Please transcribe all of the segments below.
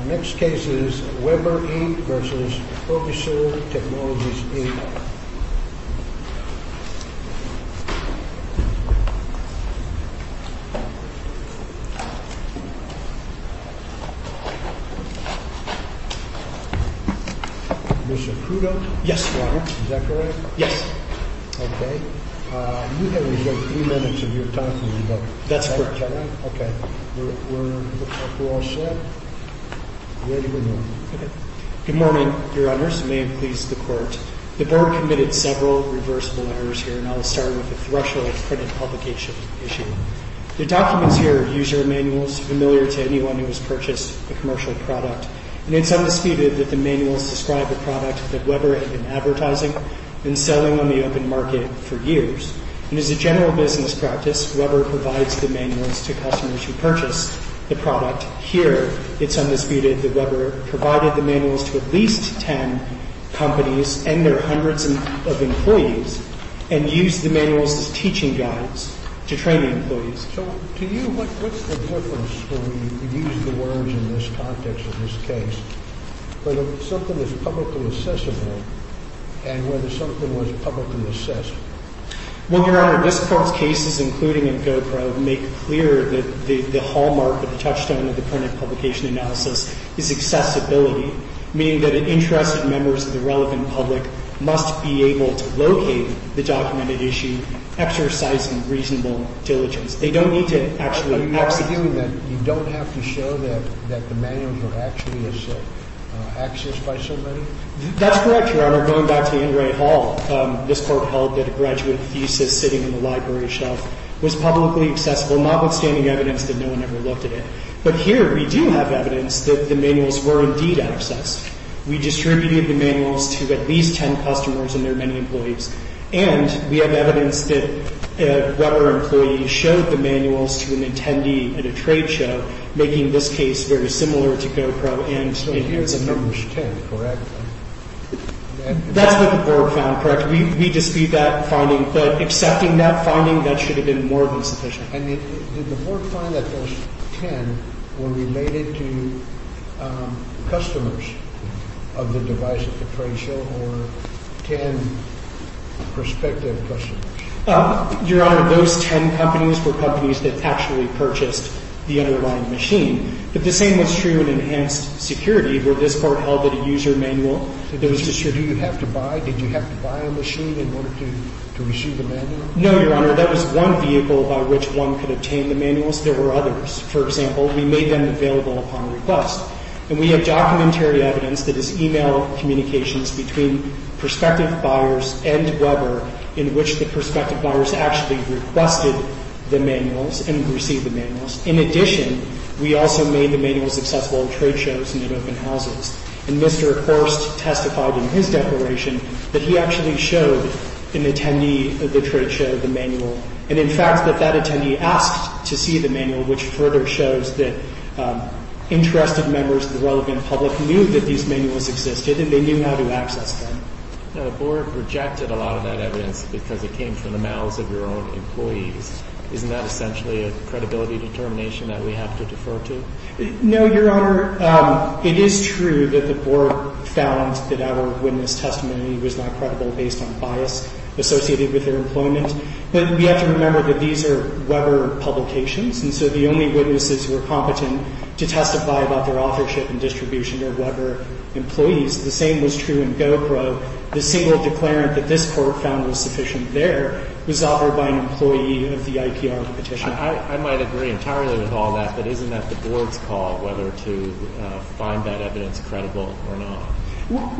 The next case is Weber, Inc. v. Provisur Technologies, Inc. Mr. Crudo? Yes, Your Honor. Is that correct? Yes. Okay. You have reserved three minutes of your time for me, but... That's correct, Your Honor. Okay. We're all set. Ready to go. Okay. Good morning, Your Honors. You may have pleased the Court. The Board committed several reversible errors here, and I'll start with the threshold printed publication issue. The documents here are user manuals familiar to anyone who has purchased a commercial product, and it's undisputed that the manuals describe a product that Weber had been advertising and selling on the open market for years. And as a general business practice, Weber provides the manuals to customers who purchase the product. Here, it's undisputed that Weber provided the manuals to at least ten companies and their hundreds of employees and used the manuals as teaching guides to train the employees. So to you, what's the difference, when we use the words in this context of this case, whether something is publicly accessible and whether something was publicly assessed? Well, Your Honor, this Court's cases, including in GoPro, make clear that the hallmark or the touchstone of the printed publication analysis is accessibility, meaning that interested members of the relevant public must be able to locate the documented issue, exercising reasonable diligence. They don't need to actually access it. You don't have to show that the manuals were actually accessed by somebody? That's correct, Your Honor. Going back to Anne Ray Hall, this Court held that a graduate thesis sitting on the library shelf was publicly accessible, notwithstanding evidence that no one ever looked at it. But here, we do have evidence that the manuals were indeed accessed. We distributed the manuals to at least ten customers and their many employees, and we have evidence that a Weber employee showed the manuals to an attendee at a trade show, making this case very similar to GoPro. So here's the numbers ten, correct? That's what the Board found, correct. We dispute that finding, but accepting that finding, that should have been more than sufficient. And did the Board find that those ten were related to customers of the device at the trade show, or ten prospective customers? Your Honor, those ten companies were companies that actually purchased the underlying machine. But the same was true in enhanced security, where this Court held that a user manual, it was just, do you have to buy, did you have to buy a machine in order to receive the manual? No, Your Honor. That was one vehicle by which one could obtain the manuals. There were others. For example, we made them available upon request. And we have documentary evidence that is e-mail communications between prospective buyers and Weber in which the prospective buyers actually requested the manuals and received the manuals. In addition, we also made the manuals accessible at trade shows and at open houses. And Mr. Horst testified in his declaration that he actually showed an attendee at the trade show the manual, and in fact that that attendee asked to see the manual, which further shows that interested members of the relevant public knew that these manuals existed and they knew how to access them. The Board rejected a lot of that evidence because it came from the mouths of your own employees. Isn't that essentially a credibility determination that we have to defer to? No, Your Honor. It is true that the Board found that our witness testimony was not credible based on bias associated with their employment. But we have to remember that these are Weber publications, and so the only witnesses who are competent to testify about their authorship and distribution are Weber employees. The same was true in Gopro. The single declarant that this Court found was sufficient there was offered by an employee of the IPR petition. I might agree entirely with all that, but isn't that the Board's call whether to find that evidence credible or not?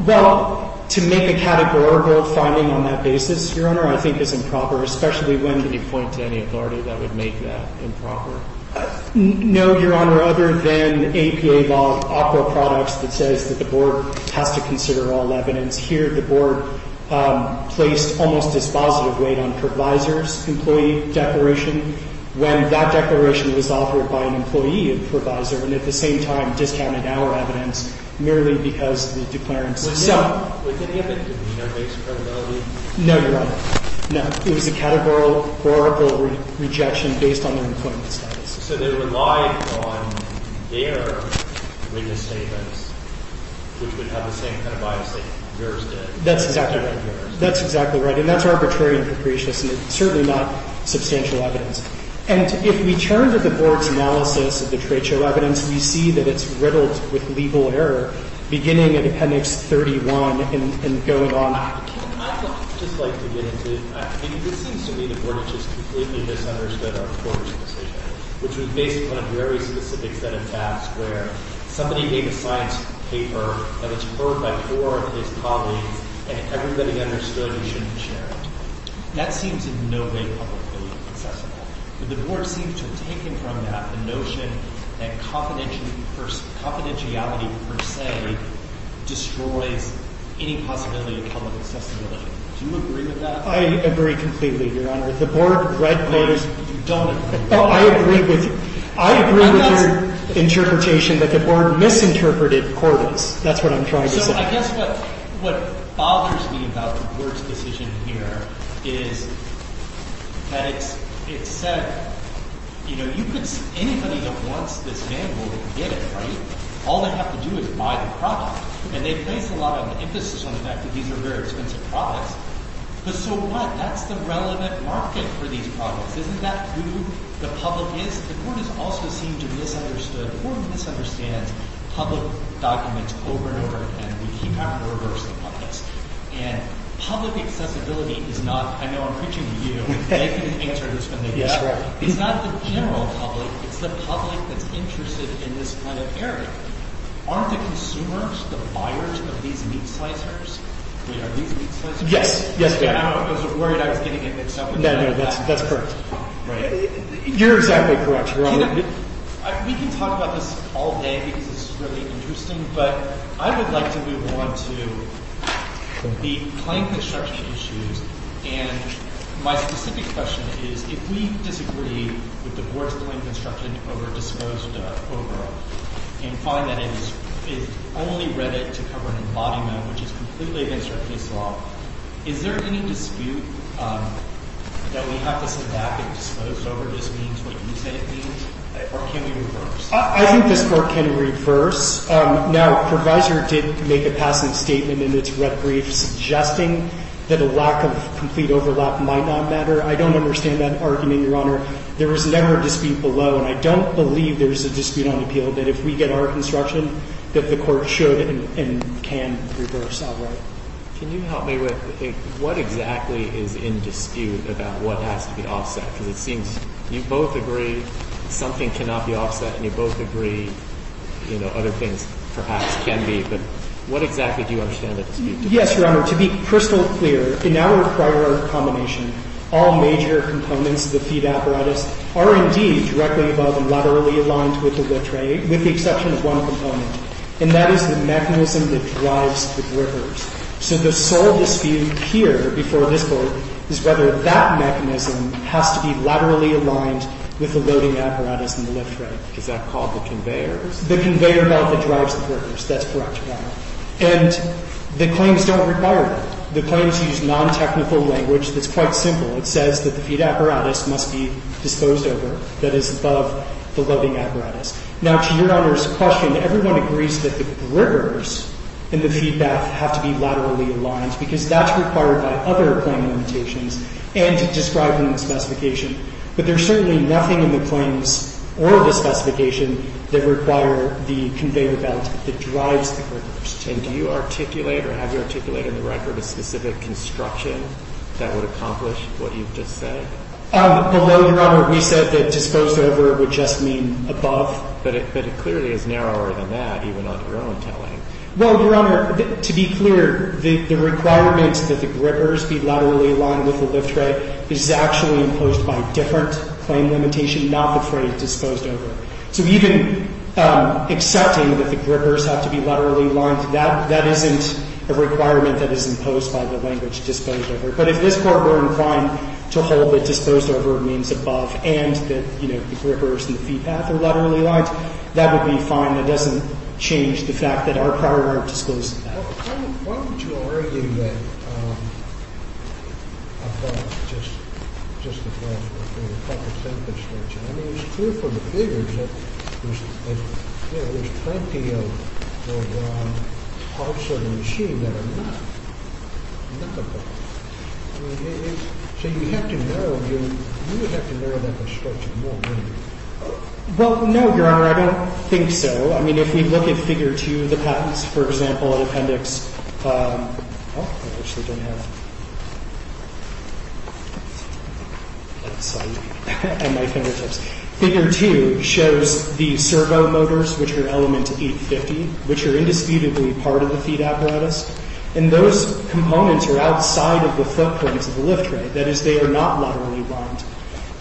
Well, to make a categorical finding on that basis, Your Honor, I think is improper, especially when— Can you point to any authority that would make that improper? No, Your Honor, other than APA law, OPRA products that says that the Board has to consider all evidence. Here, the Board placed almost dispositive weight on provisor's employee declaration when that declaration was offered by an employee of the provisor, and at the same time discounted our evidence merely because the declarant's— Was any of it based on credibility? No, Your Honor. No. It was a categorical, oracle rejection based on their employment status. So they relied on their witness statements, which would have the same kind of bias that yours did. That's exactly right, Your Honor. That's exactly right. And that's arbitrary and capricious, and it's certainly not substantial evidence. And if we turn to the Board's analysis of the trade show evidence, we see that it's riddled with legal error beginning in Appendix 31 and going on— I'd just like to get into—I mean, this seems to me the Board has just completely misunderstood our court's decision, which was based upon a very specific set of facts, where somebody gave a science paper that it's perfect for his colleagues, and everybody understood he shouldn't share it. That seems in no way publicly accessible. The Board seems to have taken from that the notion that confidentiality per se destroys any possibility of public accessibility. Do you agree with that? I agree completely, Your Honor. The Board read those— No, you don't agree. No, I agree with you. I agree with your interpretation that the Board misinterpreted Corwin's. That's what I'm trying to say. So I guess what bothers me about the Board's decision here is that it said, you know, you could—anybody that wants this manual can get it, right? All they have to do is buy the product. And they place a lot of emphasis on the fact that these are very expensive products. But so what? That's the relevant market for these products. Isn't that who the public is? The Court has also seemed to have misunderstood or misunderstand public documents over and over again. We keep having to reverse the puppets. And public accessibility is not—I know I'm preaching to you. They can answer this when they get it. It's not the general public. It's the public that's interested in this kind of area. Aren't the consumers, the buyers, of these meat slicers? Wait, are these meat slicers? Yes. I was worried I was getting it mixed up. No, no. That's correct. You're exactly correct, Your Honor. We can talk about this all day because this is really interesting. But I would like to move on to the client construction issues. And my specific question is, if we disagree with the board's claim of construction over disposed over and find that it's only read it to cover an embodiment, which is completely against our case law, is there any dispute that we have to sit back and dispose over? Does it mean what you say it means? Or can we reverse? I think this Court can reverse. Now, Proviso did make a passing statement in its red brief suggesting that a lack of complete overlap might not matter. I don't understand that argument, Your Honor. There is never a dispute below. And I don't believe there is a dispute on appeal that if we get our construction, that the Court should and can reverse outright. Can you help me with what exactly is in dispute about what has to be offset? Because it seems you both agree something cannot be offset, and you both agree other things perhaps can be. But what exactly do you understand the dispute to be? Yes, Your Honor. To be crystal clear, in our prior combination, all major components of the feed apparatus are indeed directly above and laterally aligned with the exception of one component. And that is the mechanism that drives the drivers. So the sole dispute here before this Court is whether that mechanism has to be laterally aligned with the loading apparatus and the lift rail. Is that called the conveyor? The conveyor belt that drives the workers. That's correct, Your Honor. And the claims don't require that. The claims use nontechnical language that's quite simple. It says that the feed apparatus must be disposed over, that is, above the loading apparatus. Now, to Your Honor's question, everyone agrees that the drivers and the feedback have to be laterally aligned, because that's required by other claim limitations and described in the specification. But there's certainly nothing in the claims or the specification that require the conveyor belt that drives the drivers. And do you articulate or have you articulated in the record a specific construction that would accomplish what you've just said? Below, Your Honor, we said that disposed over would just mean above. But it clearly is narrower than that, even on your own telling. Well, Your Honor, to be clear, the requirement that the grippers be laterally aligned with the lift rail is actually imposed by different claim limitation, not the phrase disposed over. So even accepting that the grippers have to be laterally aligned, that isn't a requirement that is imposed by the language disposed over. But if this Court were inclined to hold that disposed over means above and that, you know, the grippers and the feed path are laterally aligned, that would be fine. That doesn't change the fact that our prior work disclosed that. Well, no, Your Honor, I don't think so. I mean, if we look at figure two of the patents, for example, an appendix, figure two shows the servo motors, which are element 850, which are indisputably part of the feed apparatus. And those components are outside of the footprints of the lift rail. That is, they are not laterally aligned.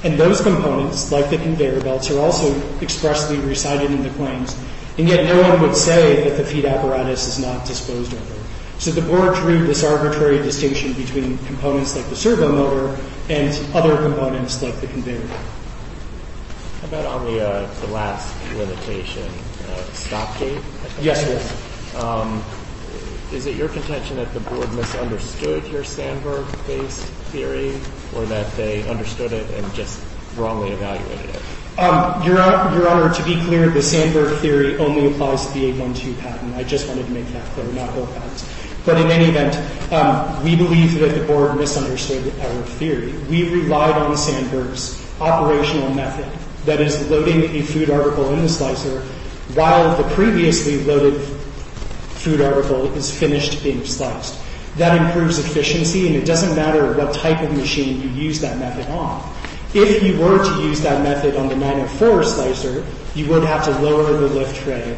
And those components, like the conveyor belts, are also expressly recited in the claims. And yet no one would say that the feed apparatus is not disposed over. So the Board drew this arbitrary distinction between components like the servo motor and other components like the conveyor belt. How about on the last limitation, stop date? Yes, Your Honor. Is it your contention that the Board misunderstood your Sandberg-based theory or that they understood it and just wrongly evaluated it? Your Honor, to be clear, the Sandberg theory only applies to the 812 patent. I just wanted to make that clear, not both patents. But in any event, we believe that the Board misunderstood our theory. We relied on Sandberg's operational method, that is, loading a food article in the slicer while the previously loaded food article is finished being sliced. That improves efficiency, and it doesn't matter what type of machine you use that method on. If you were to use that method on the 904 slicer, you would have to lower the lift rail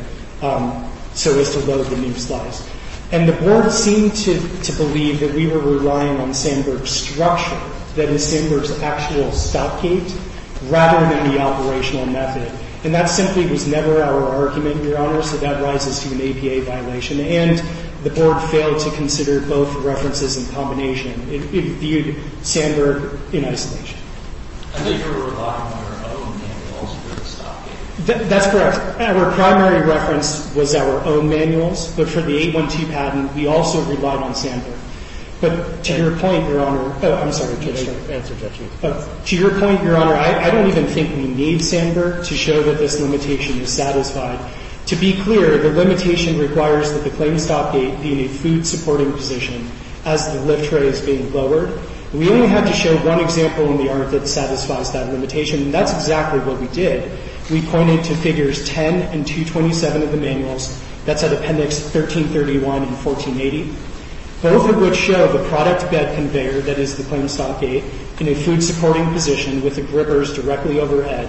so as to load the new slice. And the Board seemed to believe that we were relying on Sandberg's structure, that is, Sandberg's actual stop gate, rather than the operational method. And that simply was never our argument, Your Honor, so that rises to an APA violation. And the Board failed to consider both references in combination. It viewed Sandberg in isolation. I thought you were relying on our own manuals for the stop gate. That's correct. Our primary reference was our own manuals. But for the 812 patent, we also relied on Sandberg. But to your point, Your Honor – oh, I'm sorry. To your point, Your Honor, I don't even think we need Sandberg to show that this limitation is satisfied. To be clear, the limitation requires that the claim stop gate be in a food-supporting position as the lift rail is being lowered. We only had to show one example in the art that satisfies that limitation, and that's exactly what we did. We pointed to Figures 10 and 227 of the manuals. That's at Appendix 1331 and 1480, both of which show the product bed conveyor, that is, the claim stop gate, in a food-supporting position with the grippers directly overhead.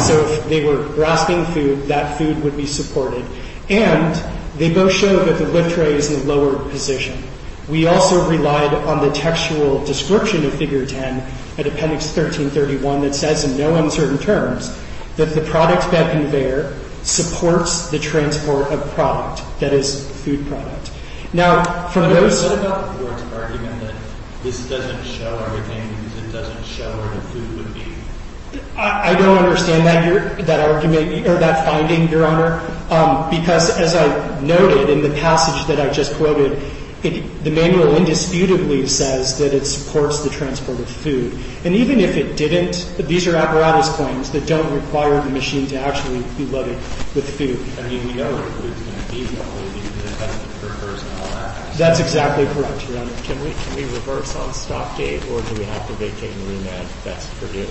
So if they were grasping food, that food would be supported. And they both show that the lift rail is in the lowered position. We also relied on the textual description of Figure 10 at Appendix 1331 that says in no uncertain terms that the product bed conveyor supports the transport of product, that is, the food product. Now, from those – What about the Court's argument that this doesn't show everything because it doesn't show where the food would be? I don't understand that argument – or that finding, Your Honor, because as I noted in the passage that I just quoted, the manual indisputably says that it supports the transport of food. And even if it didn't, these are apparatus claims that don't require the machine to actually be loaded with food. I mean, we know where the food is going to be, probably, because it has the grippers and all that. That's exactly correct, Your Honor. Can we reverse on stop gate, or do we have to vacate the room and that's Purdue?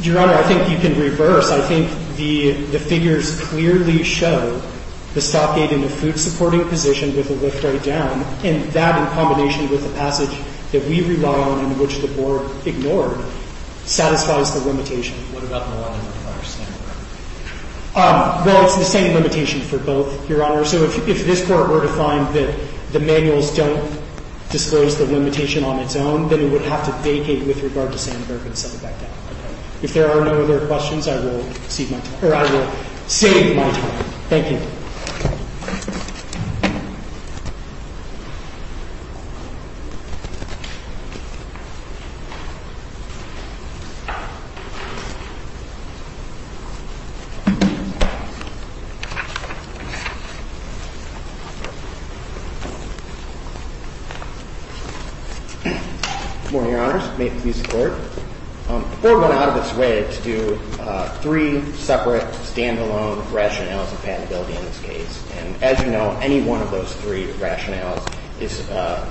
Your Honor, I think you can reverse. I think the figures clearly show the stop gate in the food-supporting position with a lift right down, and that in combination with the passage that we rely on and which the Board ignored satisfies the limitation. What about the one that requires Sandberg? Well, it's the same limitation for both, Your Honor. So if this Court were to find that the manuals don't disclose the limitation on its own, then it would have to vacate with regard to Sandberg and set it back down. If there are no other questions, I will save my time. Thank you. Good morning, Your Honors. May it please the Court. The Board went out of its way to do three separate stand-alone rationales of patentability in this case, and as you know, any one of those three rationales is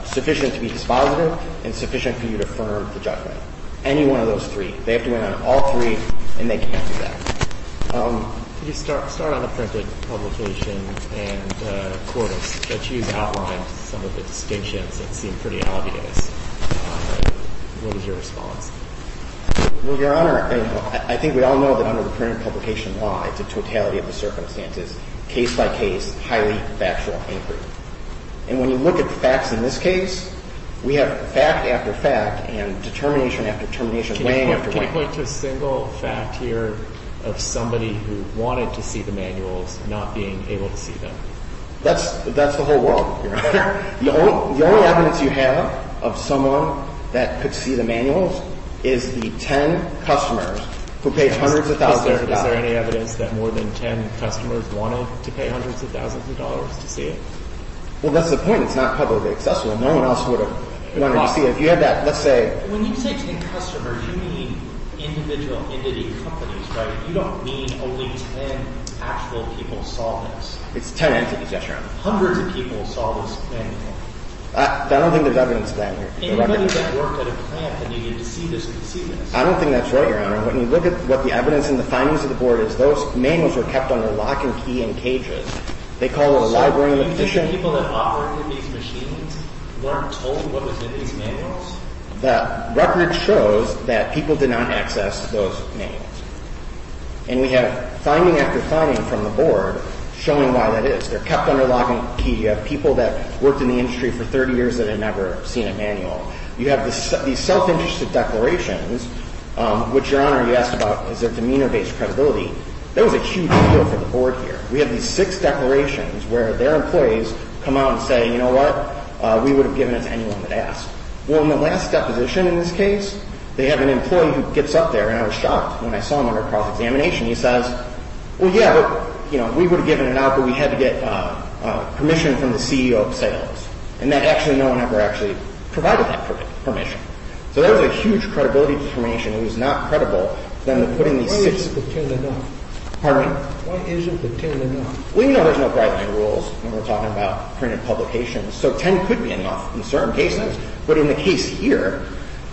sufficient to be dispositive and sufficient for you to affirm the judgment. Any one of those three. They have to win on all three, and they can't do that. Could you start on the printed publication and the quotas that you've outlined, some of the distinctions that seem pretty obvious? What is your response? Well, Your Honor, I think we all know that under the printed publication law, it's a totality of the circumstances, case-by-case, highly factual inquiry. And when you look at the facts in this case, we have fact after fact and determination after determination, wang after wang. Can you point to a single fact here of somebody who wanted to see the manuals not being able to see them? That's the whole world, Your Honor. The only evidence you have of someone that could see the manuals is the ten customers who paid hundreds of thousands of dollars. Is there any evidence that more than ten customers wanted to pay hundreds of thousands of dollars to see it? Well, that's the point. It's not publicly accessible, and no one else would have wanted to see it. If you had that, let's say. When you say ten customers, you mean individual entity companies, right? You don't mean only ten actual people saw this. It's ten entities, Your Honor. Hundreds of people saw this manual. I don't think there's evidence of that here. Anybody that worked at a plant that needed to see this could see this. I don't think that's right, Your Honor. When you look at what the evidence and the findings of the Board is, those manuals were kept under lock and key in cages. They call it a library of addition. So you think the people that operated these machines weren't told what was in these manuals? The record shows that people did not access those manuals. And we have finding after finding from the Board showing why that is. They're kept under lock and key. You have people that worked in the industry for 30 years that had never seen a manual. You have these self-interested declarations, which, Your Honor, you asked about, is there demeanor-based credibility. There was a huge deal for the Board here. We have these six declarations where their employees come out and say, you know what, we would have given it to anyone that asked. Well, in the last deposition in this case, they have an employee who gets up there, and I was shocked when I saw him under cross-examination. He says, well, yeah, but, you know, we would have given it out, but we had to get permission from the CEO of sales. And that actually no one ever actually provided that permission. So there was a huge credibility deformation. It was not credible for them to put in these six. Why isn't the 10 enough? Pardon me? Why isn't the 10 enough? Well, you know there's no guideline rules when we're talking about printed publications. So 10 could be enough in certain cases. But in the case here,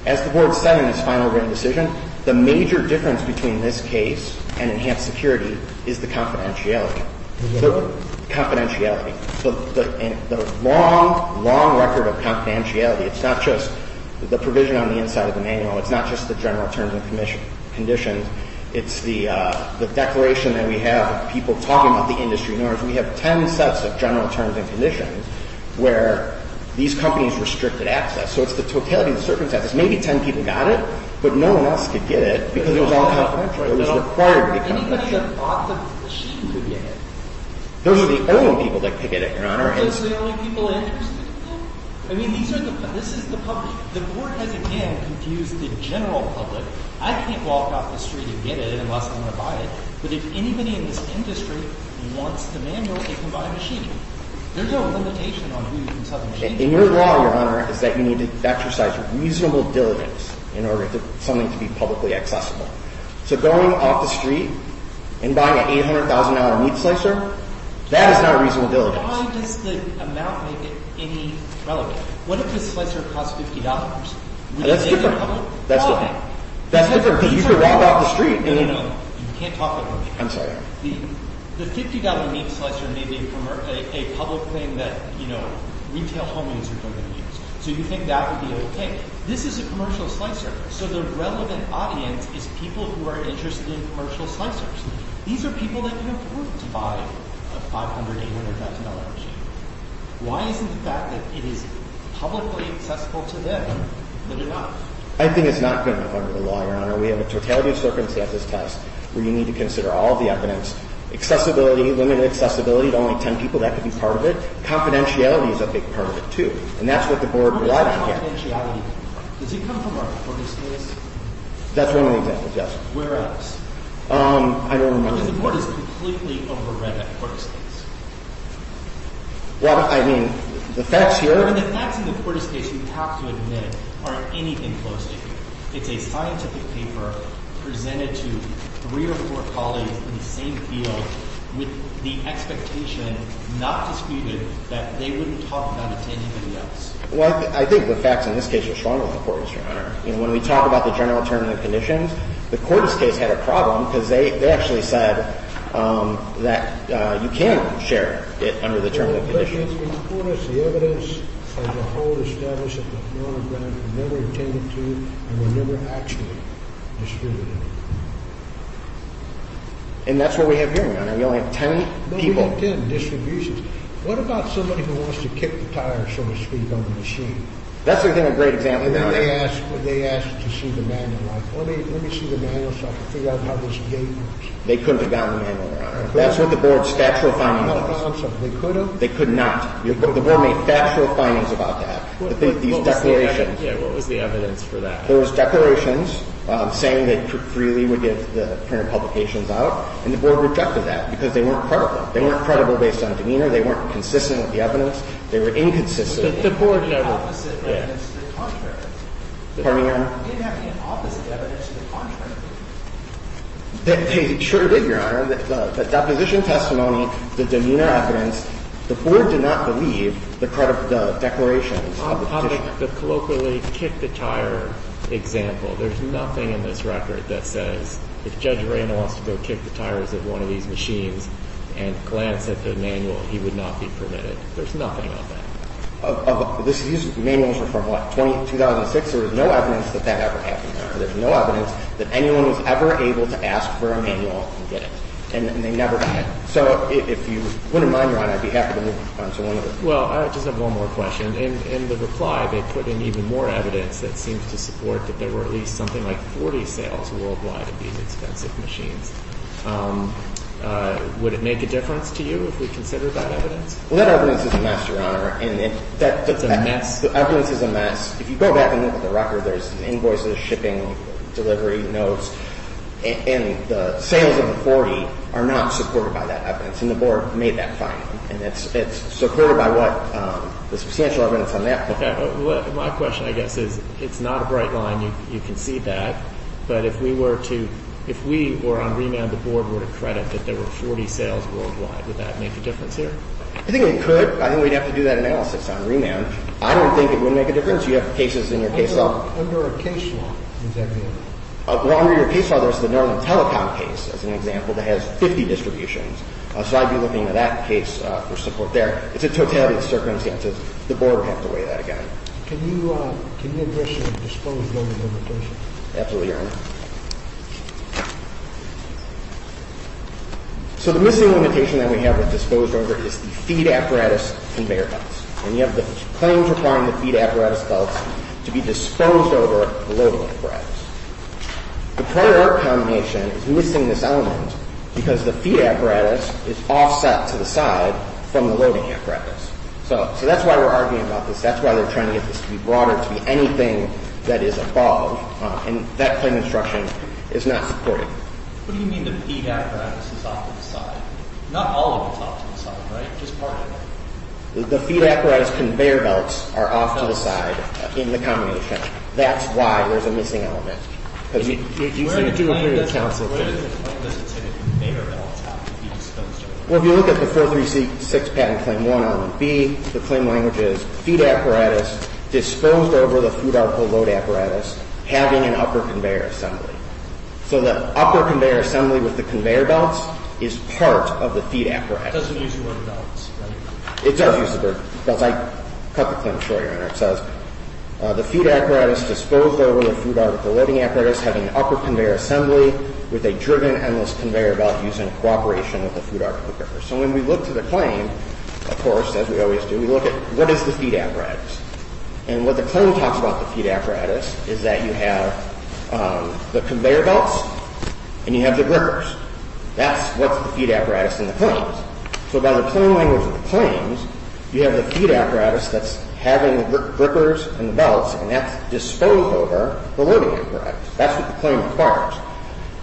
as the Board said in its final written decision, the major difference between this case and enhanced security is the confidentiality. The what? Confidentiality. The long, long record of confidentiality. It's not just the provision on the inside of the manual. It's not just the general terms and conditions. It's the declaration that we have of people talking about the industry. In other words, we have 10 sets of general terms and conditions where these companies restricted access. So it's the totality of the circumstances. Maybe 10 people got it, but no one else could get it because it was all confidential. It was required to be confidential. Anybody that bought the machine could get it. Those are the only people that could get it, Your Honor. Those are the only people interested in it? I mean, this is the public. The Board has, again, confused the general public. I can't walk off the street and get it unless I'm going to buy it. But if anybody in this industry wants the manual, they can buy a machine. There's no limitation on who can sell the machine. And your law, Your Honor, is that you need to exercise reasonable diligence in order for something to be publicly accessible. So going off the street and buying an $800,000 meat slicer, that is not reasonable diligence. Why does the amount make it any relevant? What if the slicer costs $50? That's different. Why? That's different. You could walk off the street. No, no, no. You can't talk like that. I'm sorry. The $50 meat slicer may be a public thing that, you know, retail homeowners are going to use. So you think that would be okay. This is a commercial slicer. So the relevant audience is people who are interested in commercial slicers. These are people that can afford to buy a $500,000, $800,000 machine. Why isn't the fact that it is publicly accessible to them that it's not? Your Honor, we have a totality of circumstances test where you need to consider all of the evidence. Accessibility, limited accessibility to only 10 people, that could be part of it. Confidentiality is a big part of it, too. And that's what the Board would like to hear. How does confidentiality come from? Does it come from our Quartus case? That's one of the examples, yes. Where else? I don't remember. Because the Board is completely over read that Quartus case. Well, I mean, the facts here. The facts in the Quartus case, you have to admit, aren't anything close to here. It's a scientific paper presented to three or four colleagues in the same field with the expectation, not disputed, that they wouldn't talk about it to anybody else. Well, I think the facts in this case are stronger than the Quartus, Your Honor. When we talk about the general term and the conditions, the Quartus case had a problem because they actually said that you can share it under the term and the conditions. In the Quartus, the evidence of the whole establishment of the program never attended to and were never actually distributed. And that's what we have here, Your Honor. We only have 10 people. No, we have 10 distributions. What about somebody who wants to kick the tire, so to speak, on the machine? That's a great example, Your Honor. And then they asked to see the manual. Like, let me see the manual so I can figure out how this gate works. They couldn't have gotten the manual, Your Honor. That's what the Board's statutory finding was. They could have gotten something. They could have? They could not. The Board made factual findings about that. These declarations. Yeah. What was the evidence for that? There was declarations saying they freely would give the printed publications out, and the Board rejected that because they weren't credible. They weren't credible based on demeanor. They weren't consistent with the evidence. They were inconsistent. The Board never – They didn't have any opposite evidence to the contrary. Pardon me, Your Honor? They didn't have any opposite evidence to the contrary. They sure did, Your Honor. The deposition testimony, the demeanor evidence, the Board did not believe the declarations of the petitioner. On the colloquially kick-the-tire example, there's nothing in this record that says if Judge Raynor wants to go kick the tires of one of these machines and glance at the manual, he would not be permitted. There's nothing of that. This manual is from what, 2006? There was no evidence that that ever happened, Your Honor. There's no evidence that anyone was ever able to ask for a manual and get it. And they never did. So if you wouldn't mind, Your Honor, I'd be happy to move on to one of the – Well, I just have one more question. In the reply, they put in even more evidence that seems to support that there were at least something like 40 sales worldwide of these expensive machines. Would it make a difference to you if we considered that evidence? Well, that evidence is a mess, Your Honor. And it – It's a mess. The evidence is a mess. If you go back and look at the record, there's invoices, shipping, delivery, notes. And the sales of the 40 are not supported by that evidence. And the Board made that finding. And it's supported by what – the substantial evidence on that. Okay. My question, I guess, is it's not a bright line. You can see that. But if we were to – if we were on remand, the Board were to credit that there were 40 sales worldwide, would that make a difference here? I think it could. I think we'd have to do that analysis on remand. I don't think it would make a difference. You have cases in your case law. Under a case law, does that mean? Well, under your case law, there's the Norman Telecom case, as an example, that has 50 distributions. So I'd be looking at that case for support there. It's a totality of circumstances. The Board would have to weigh that again. Can you address the disposed over limitation? Absolutely, Your Honor. So the missing limitation that we have with disposed over is the feed apparatus conveyor belts. And you have the claim requiring the feed apparatus belts to be disposed over the loading apparatus. The prior combination is missing this element because the feed apparatus is offset to the side from the loading apparatus. So that's why we're arguing about this. That's why they're trying to get this to be broader, to be anything that is above. And that claim instruction is not supported. What do you mean the feed apparatus is off to the side? Not all of it is off to the side, right? Just part of it. The feed apparatus conveyor belts are off to the side in the combination. That's why there's a missing element. Where in the claim does it say conveyor belts have to be disposed over? Well, if you look at the 436 patent claim 1R1B, the claim language is feed apparatus disposed over the food article load apparatus having an upper conveyor assembly. So the upper conveyor assembly with the conveyor belts is part of the feed apparatus. It doesn't use the word belts. It does use the word belts. I cut the claim to show you. It says the feed apparatus disposed over the food article loading apparatus having an upper conveyor assembly with a driven endless conveyor belt using cooperation with the food article grippers. So when we look to the claim, of course, as we always do, we look at what is the feed apparatus. And what the claim talks about the feed apparatus is that you have the conveyor belts and you have the grippers. That's what's the feed apparatus in the claims. So by the claim language of the claims, you have the feed apparatus that's having the grippers and the belts. And that's disposed over the loading apparatus. That's what the claim requires.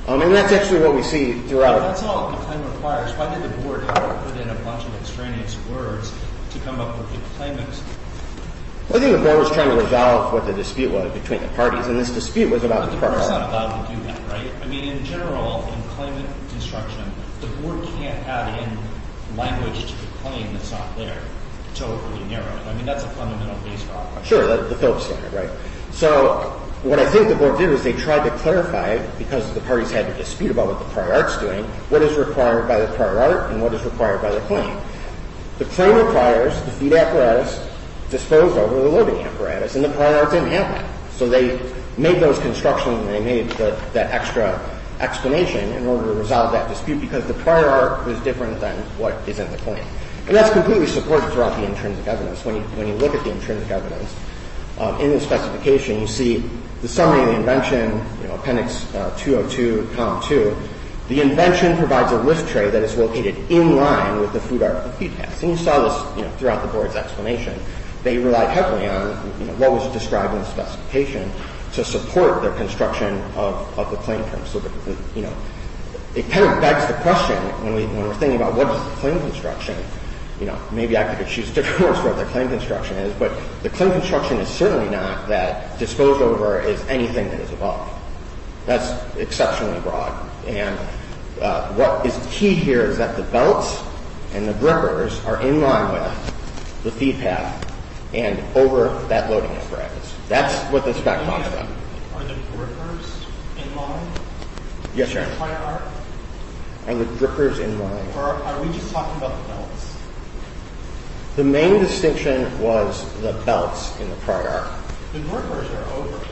And that's actually what we see throughout. That's all the claim requires. Why did the board put in a bunch of extraneous words to come up with the claimants? I think the board was trying to resolve what the dispute was between the parties. And this dispute was about the parties. But the board's not allowed to do that, right? I mean, in general, in claimant construction, the board can't add in language to the claim that's not there to overly narrow it. I mean, that's a fundamental base problem. Sure, the Phillips standard, right? So what I think the board did was they tried to clarify, because the parties had a dispute about what the prior art's doing, what is required by the prior art and what is required by the claim. The claim requires the feed apparatus disposed over the loading apparatus, and the prior art didn't have that. So they made those constructions, and they made that extra explanation in order to resolve that dispute because the prior art was different than what is in the claim. And that's completely supported throughout the intrinsic evidence. When you look at the intrinsic evidence in the specification, you see the summary of the invention, appendix 202, column 2. The invention provides a list tray that is located in line with the food article feed pass. And you saw this throughout the board's explanation. They relied heavily on what was described in the specification to support their construction of the claim terms. So, you know, it kind of begs the question, when we're thinking about what is the claim construction, you know, maybe I could choose different words for what the claim construction is, but the claim construction is certainly not that disposed over is anything that is above. That's exceptionally broad. And what is key here is that the belts and the grippers are in line with the feed path and over that loading apparatus. That's what the spec talks about. Are the grippers in line with the prior art? And the grippers in line. Or are we just talking about the belts? The main distinction was the belts in the prior art. The grippers are over, right?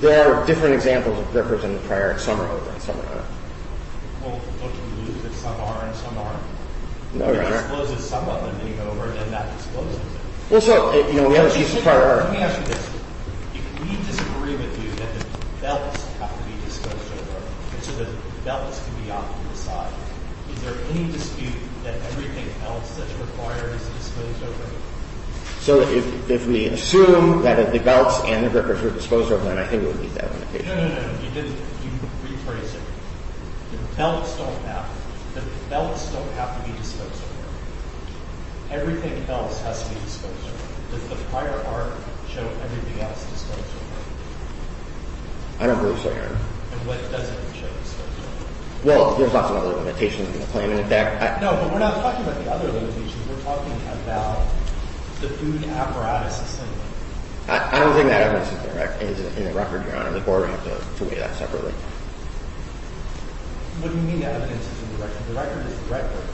There are different examples of grippers in the prior art. Some are over and some are not. Well, don't you believe that some are and some aren't? No, you're right. If it exposes some of them being over, then that exposes them. Well, so, you know, we have a piece of prior art. Let me ask you this. If we disagree with you that the belts have to be disposed over, and so the belts can be off to the side, is there any dispute that everything else that's required is disposed over? So if we assume that the belts and the grippers were disposed over, then I think we would need that limitation. No, no, no, you didn't. You rephrased it. The belts don't have to be disposed over. Everything else has to be disposed over. Does the prior art show everything else disposed over? I don't believe so, Your Honor. And what doesn't it show disposed over? Well, there's lots of other limitations in the claim. No, but we're not talking about the other limitations. We're talking about the food apparatus assembly. I don't think that evidence is in the record, Your Honor. The board would have to weigh that separately. What do you mean the evidence isn't in the record? The record is the record.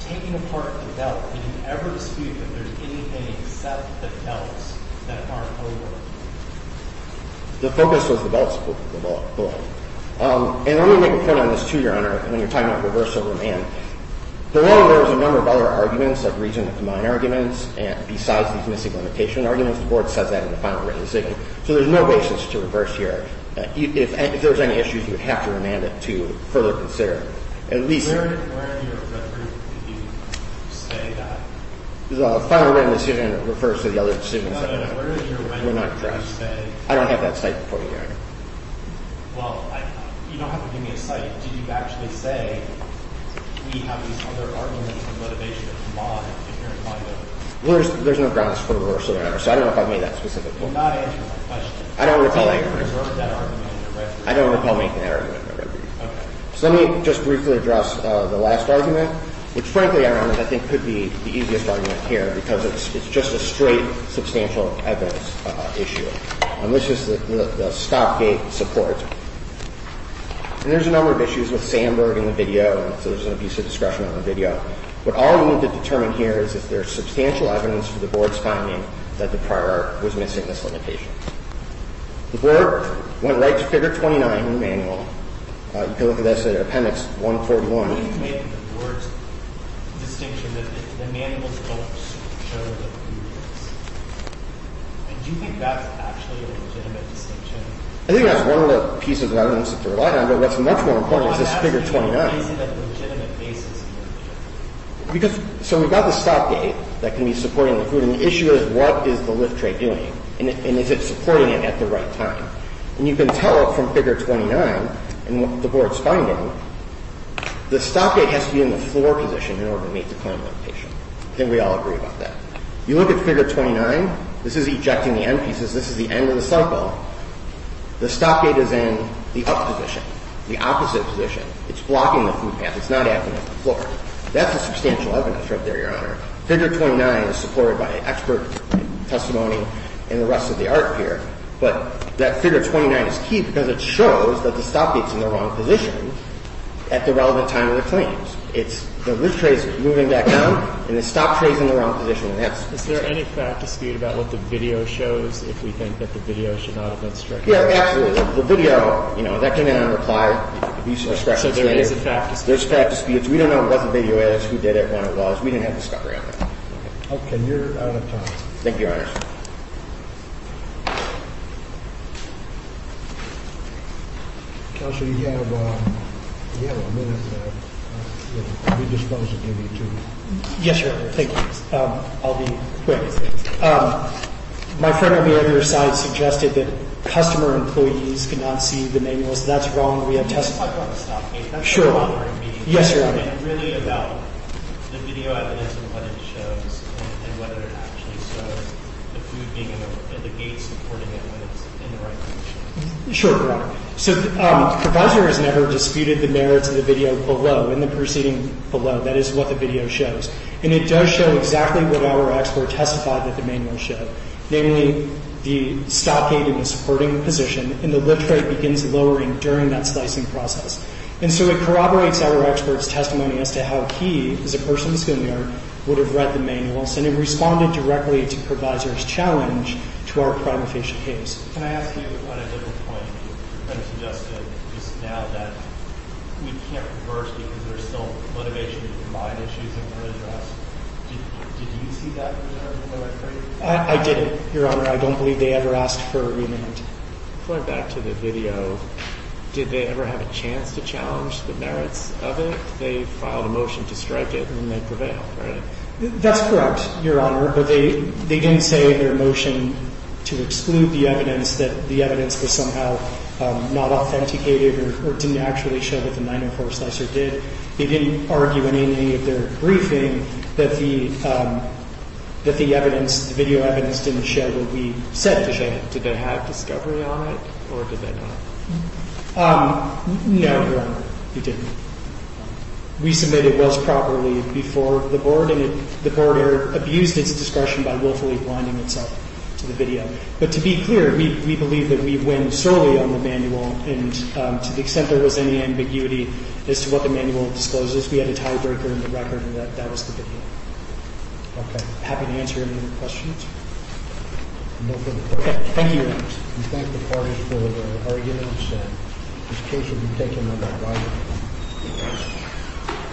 Taking apart the belt, can you ever dispute that there's anything except the belts that aren't over? The focus was the belt support, the belt. And let me make a point on this, too, Your Honor. When you're talking about reversal of remand, below there was a number of other arguments that reasoned with my arguments. And besides these missing limitation arguments, the board says that in the final written decision. So there's no basis to reverse here. If there was any issues, you would have to remand it to further consider. Where in your record did you say that? The final written decision refers to the other decisions. No, no, no, where in your record did you say that? I don't have that cite before you, Your Honor. Well, you don't have to give me a cite. Did you actually say we have these other arguments and limitations in mind if you're inclined to? There's no grounds for reversal, Your Honor, so I don't know if I made that specific point. You're not answering my question. I don't recall making that argument in the record. I don't recall making that argument in the record. Okay. So let me just briefly address the last argument, which frankly, Your Honor, I think could be the easiest argument here because it's just a straight substantial evidence issue. And this is the stopgap support. And there's a number of issues with Sandberg in the video, so there's an abuse of discretion on the video. What all we need to determine here is if there's substantial evidence for the Board's finding that the prior was missing this limitation. The Board went right to Figure 29 in the manual. You can look at this in Appendix 141. When you make the Board's distinction that the manuals don't show the abuse, do you think that's actually a legitimate distinction? I think that's one of the pieces that I don't necessarily rely on, but what's much more important is this Figure 29. Why is it a legitimate basis in your judgment? So we've got the stopgap that can be supporting the food, and the issue is what is the lift rate doing, and is it supporting it at the right time? And you can tell from Figure 29 and what the Board's finding that the stopgap has to be in the floor position in order to meet the claim limitation. I think we all agree about that. You look at Figure 29. This is ejecting the end pieces. This is the end of the cycle. The stopgap is in the up position, the opposite position. It's blocking the food path. It's not acting as the floor. That's a substantial evidence right there, Your Honor. Figure 29 is supported by expert testimony and the rest of the art here, but that Figure 29 is key because it shows that the stopgap is in the wrong position at the relevant time of the claims. It's the lift rate is moving back down, and the stop rate is in the wrong position. Is there any fact dispute about what the video shows, if we think that the video should not have been stripped? Yeah, absolutely. The video, you know, that came in on reply. So there is a fact dispute. There's fact disputes. We don't know what the video is, who did it, when it was. Okay. You're out of time. Thank you, Your Honor. Counselor, you have a minute to redispose and give you two minutes. Yes, Your Honor. Thank you. I'll be quick. My friend over here on your side suggested that customer employees could not see the manuals. That's wrong. We have testimony. I want to stop. That's not bothering me. Yes, Your Honor. It's really about the video evidence and what it shows and whether it actually shows the food being in the gates and who's supporting it when it's in the right position. Sure, Your Honor. So the provisor has never disputed the merits of the video below, in the proceeding below. That is what the video shows. And it does show exactly what our expert testified that the manual showed, namely the stockade and the supporting position, and the lift rate begins lowering during that slicing process. And so it corroborates our expert's testimony as to how he, as a person in the schoolyard, would have read the manuals and responded directly to provisor's challenge to our crime-official case. Can I ask you on a different point? You suggested just now that we can't reverse because there's still motivation to combine issues in court address. Did you see that in the record? I didn't, Your Honor. I don't believe they ever asked for a remand. Going back to the video, did they ever have a chance to challenge the merits of it? They filed a motion to strike it and then they prevailed, right? That's correct. Your Honor, but they didn't say in their motion to exclude the evidence that the evidence was somehow not authenticated or didn't actually show what the 904 slicer did. They didn't argue in any of their briefing that the evidence, the video evidence, didn't show what we said it did. Did they have discovery on it or did they not? No, Your Honor, they didn't. We submitted those properly before the board, and the board abused its discretion by willfully blinding itself to the video. But to be clear, we believe that we win solely on the manual, and to the extent there was any ambiguity as to what the manual discloses, we had a tiebreaker in the record and that was the video. Okay. Happy to answer any more questions. No further questions. Thank you, Your Honor. We thank the parties for their arguments. This case will be taken on that right.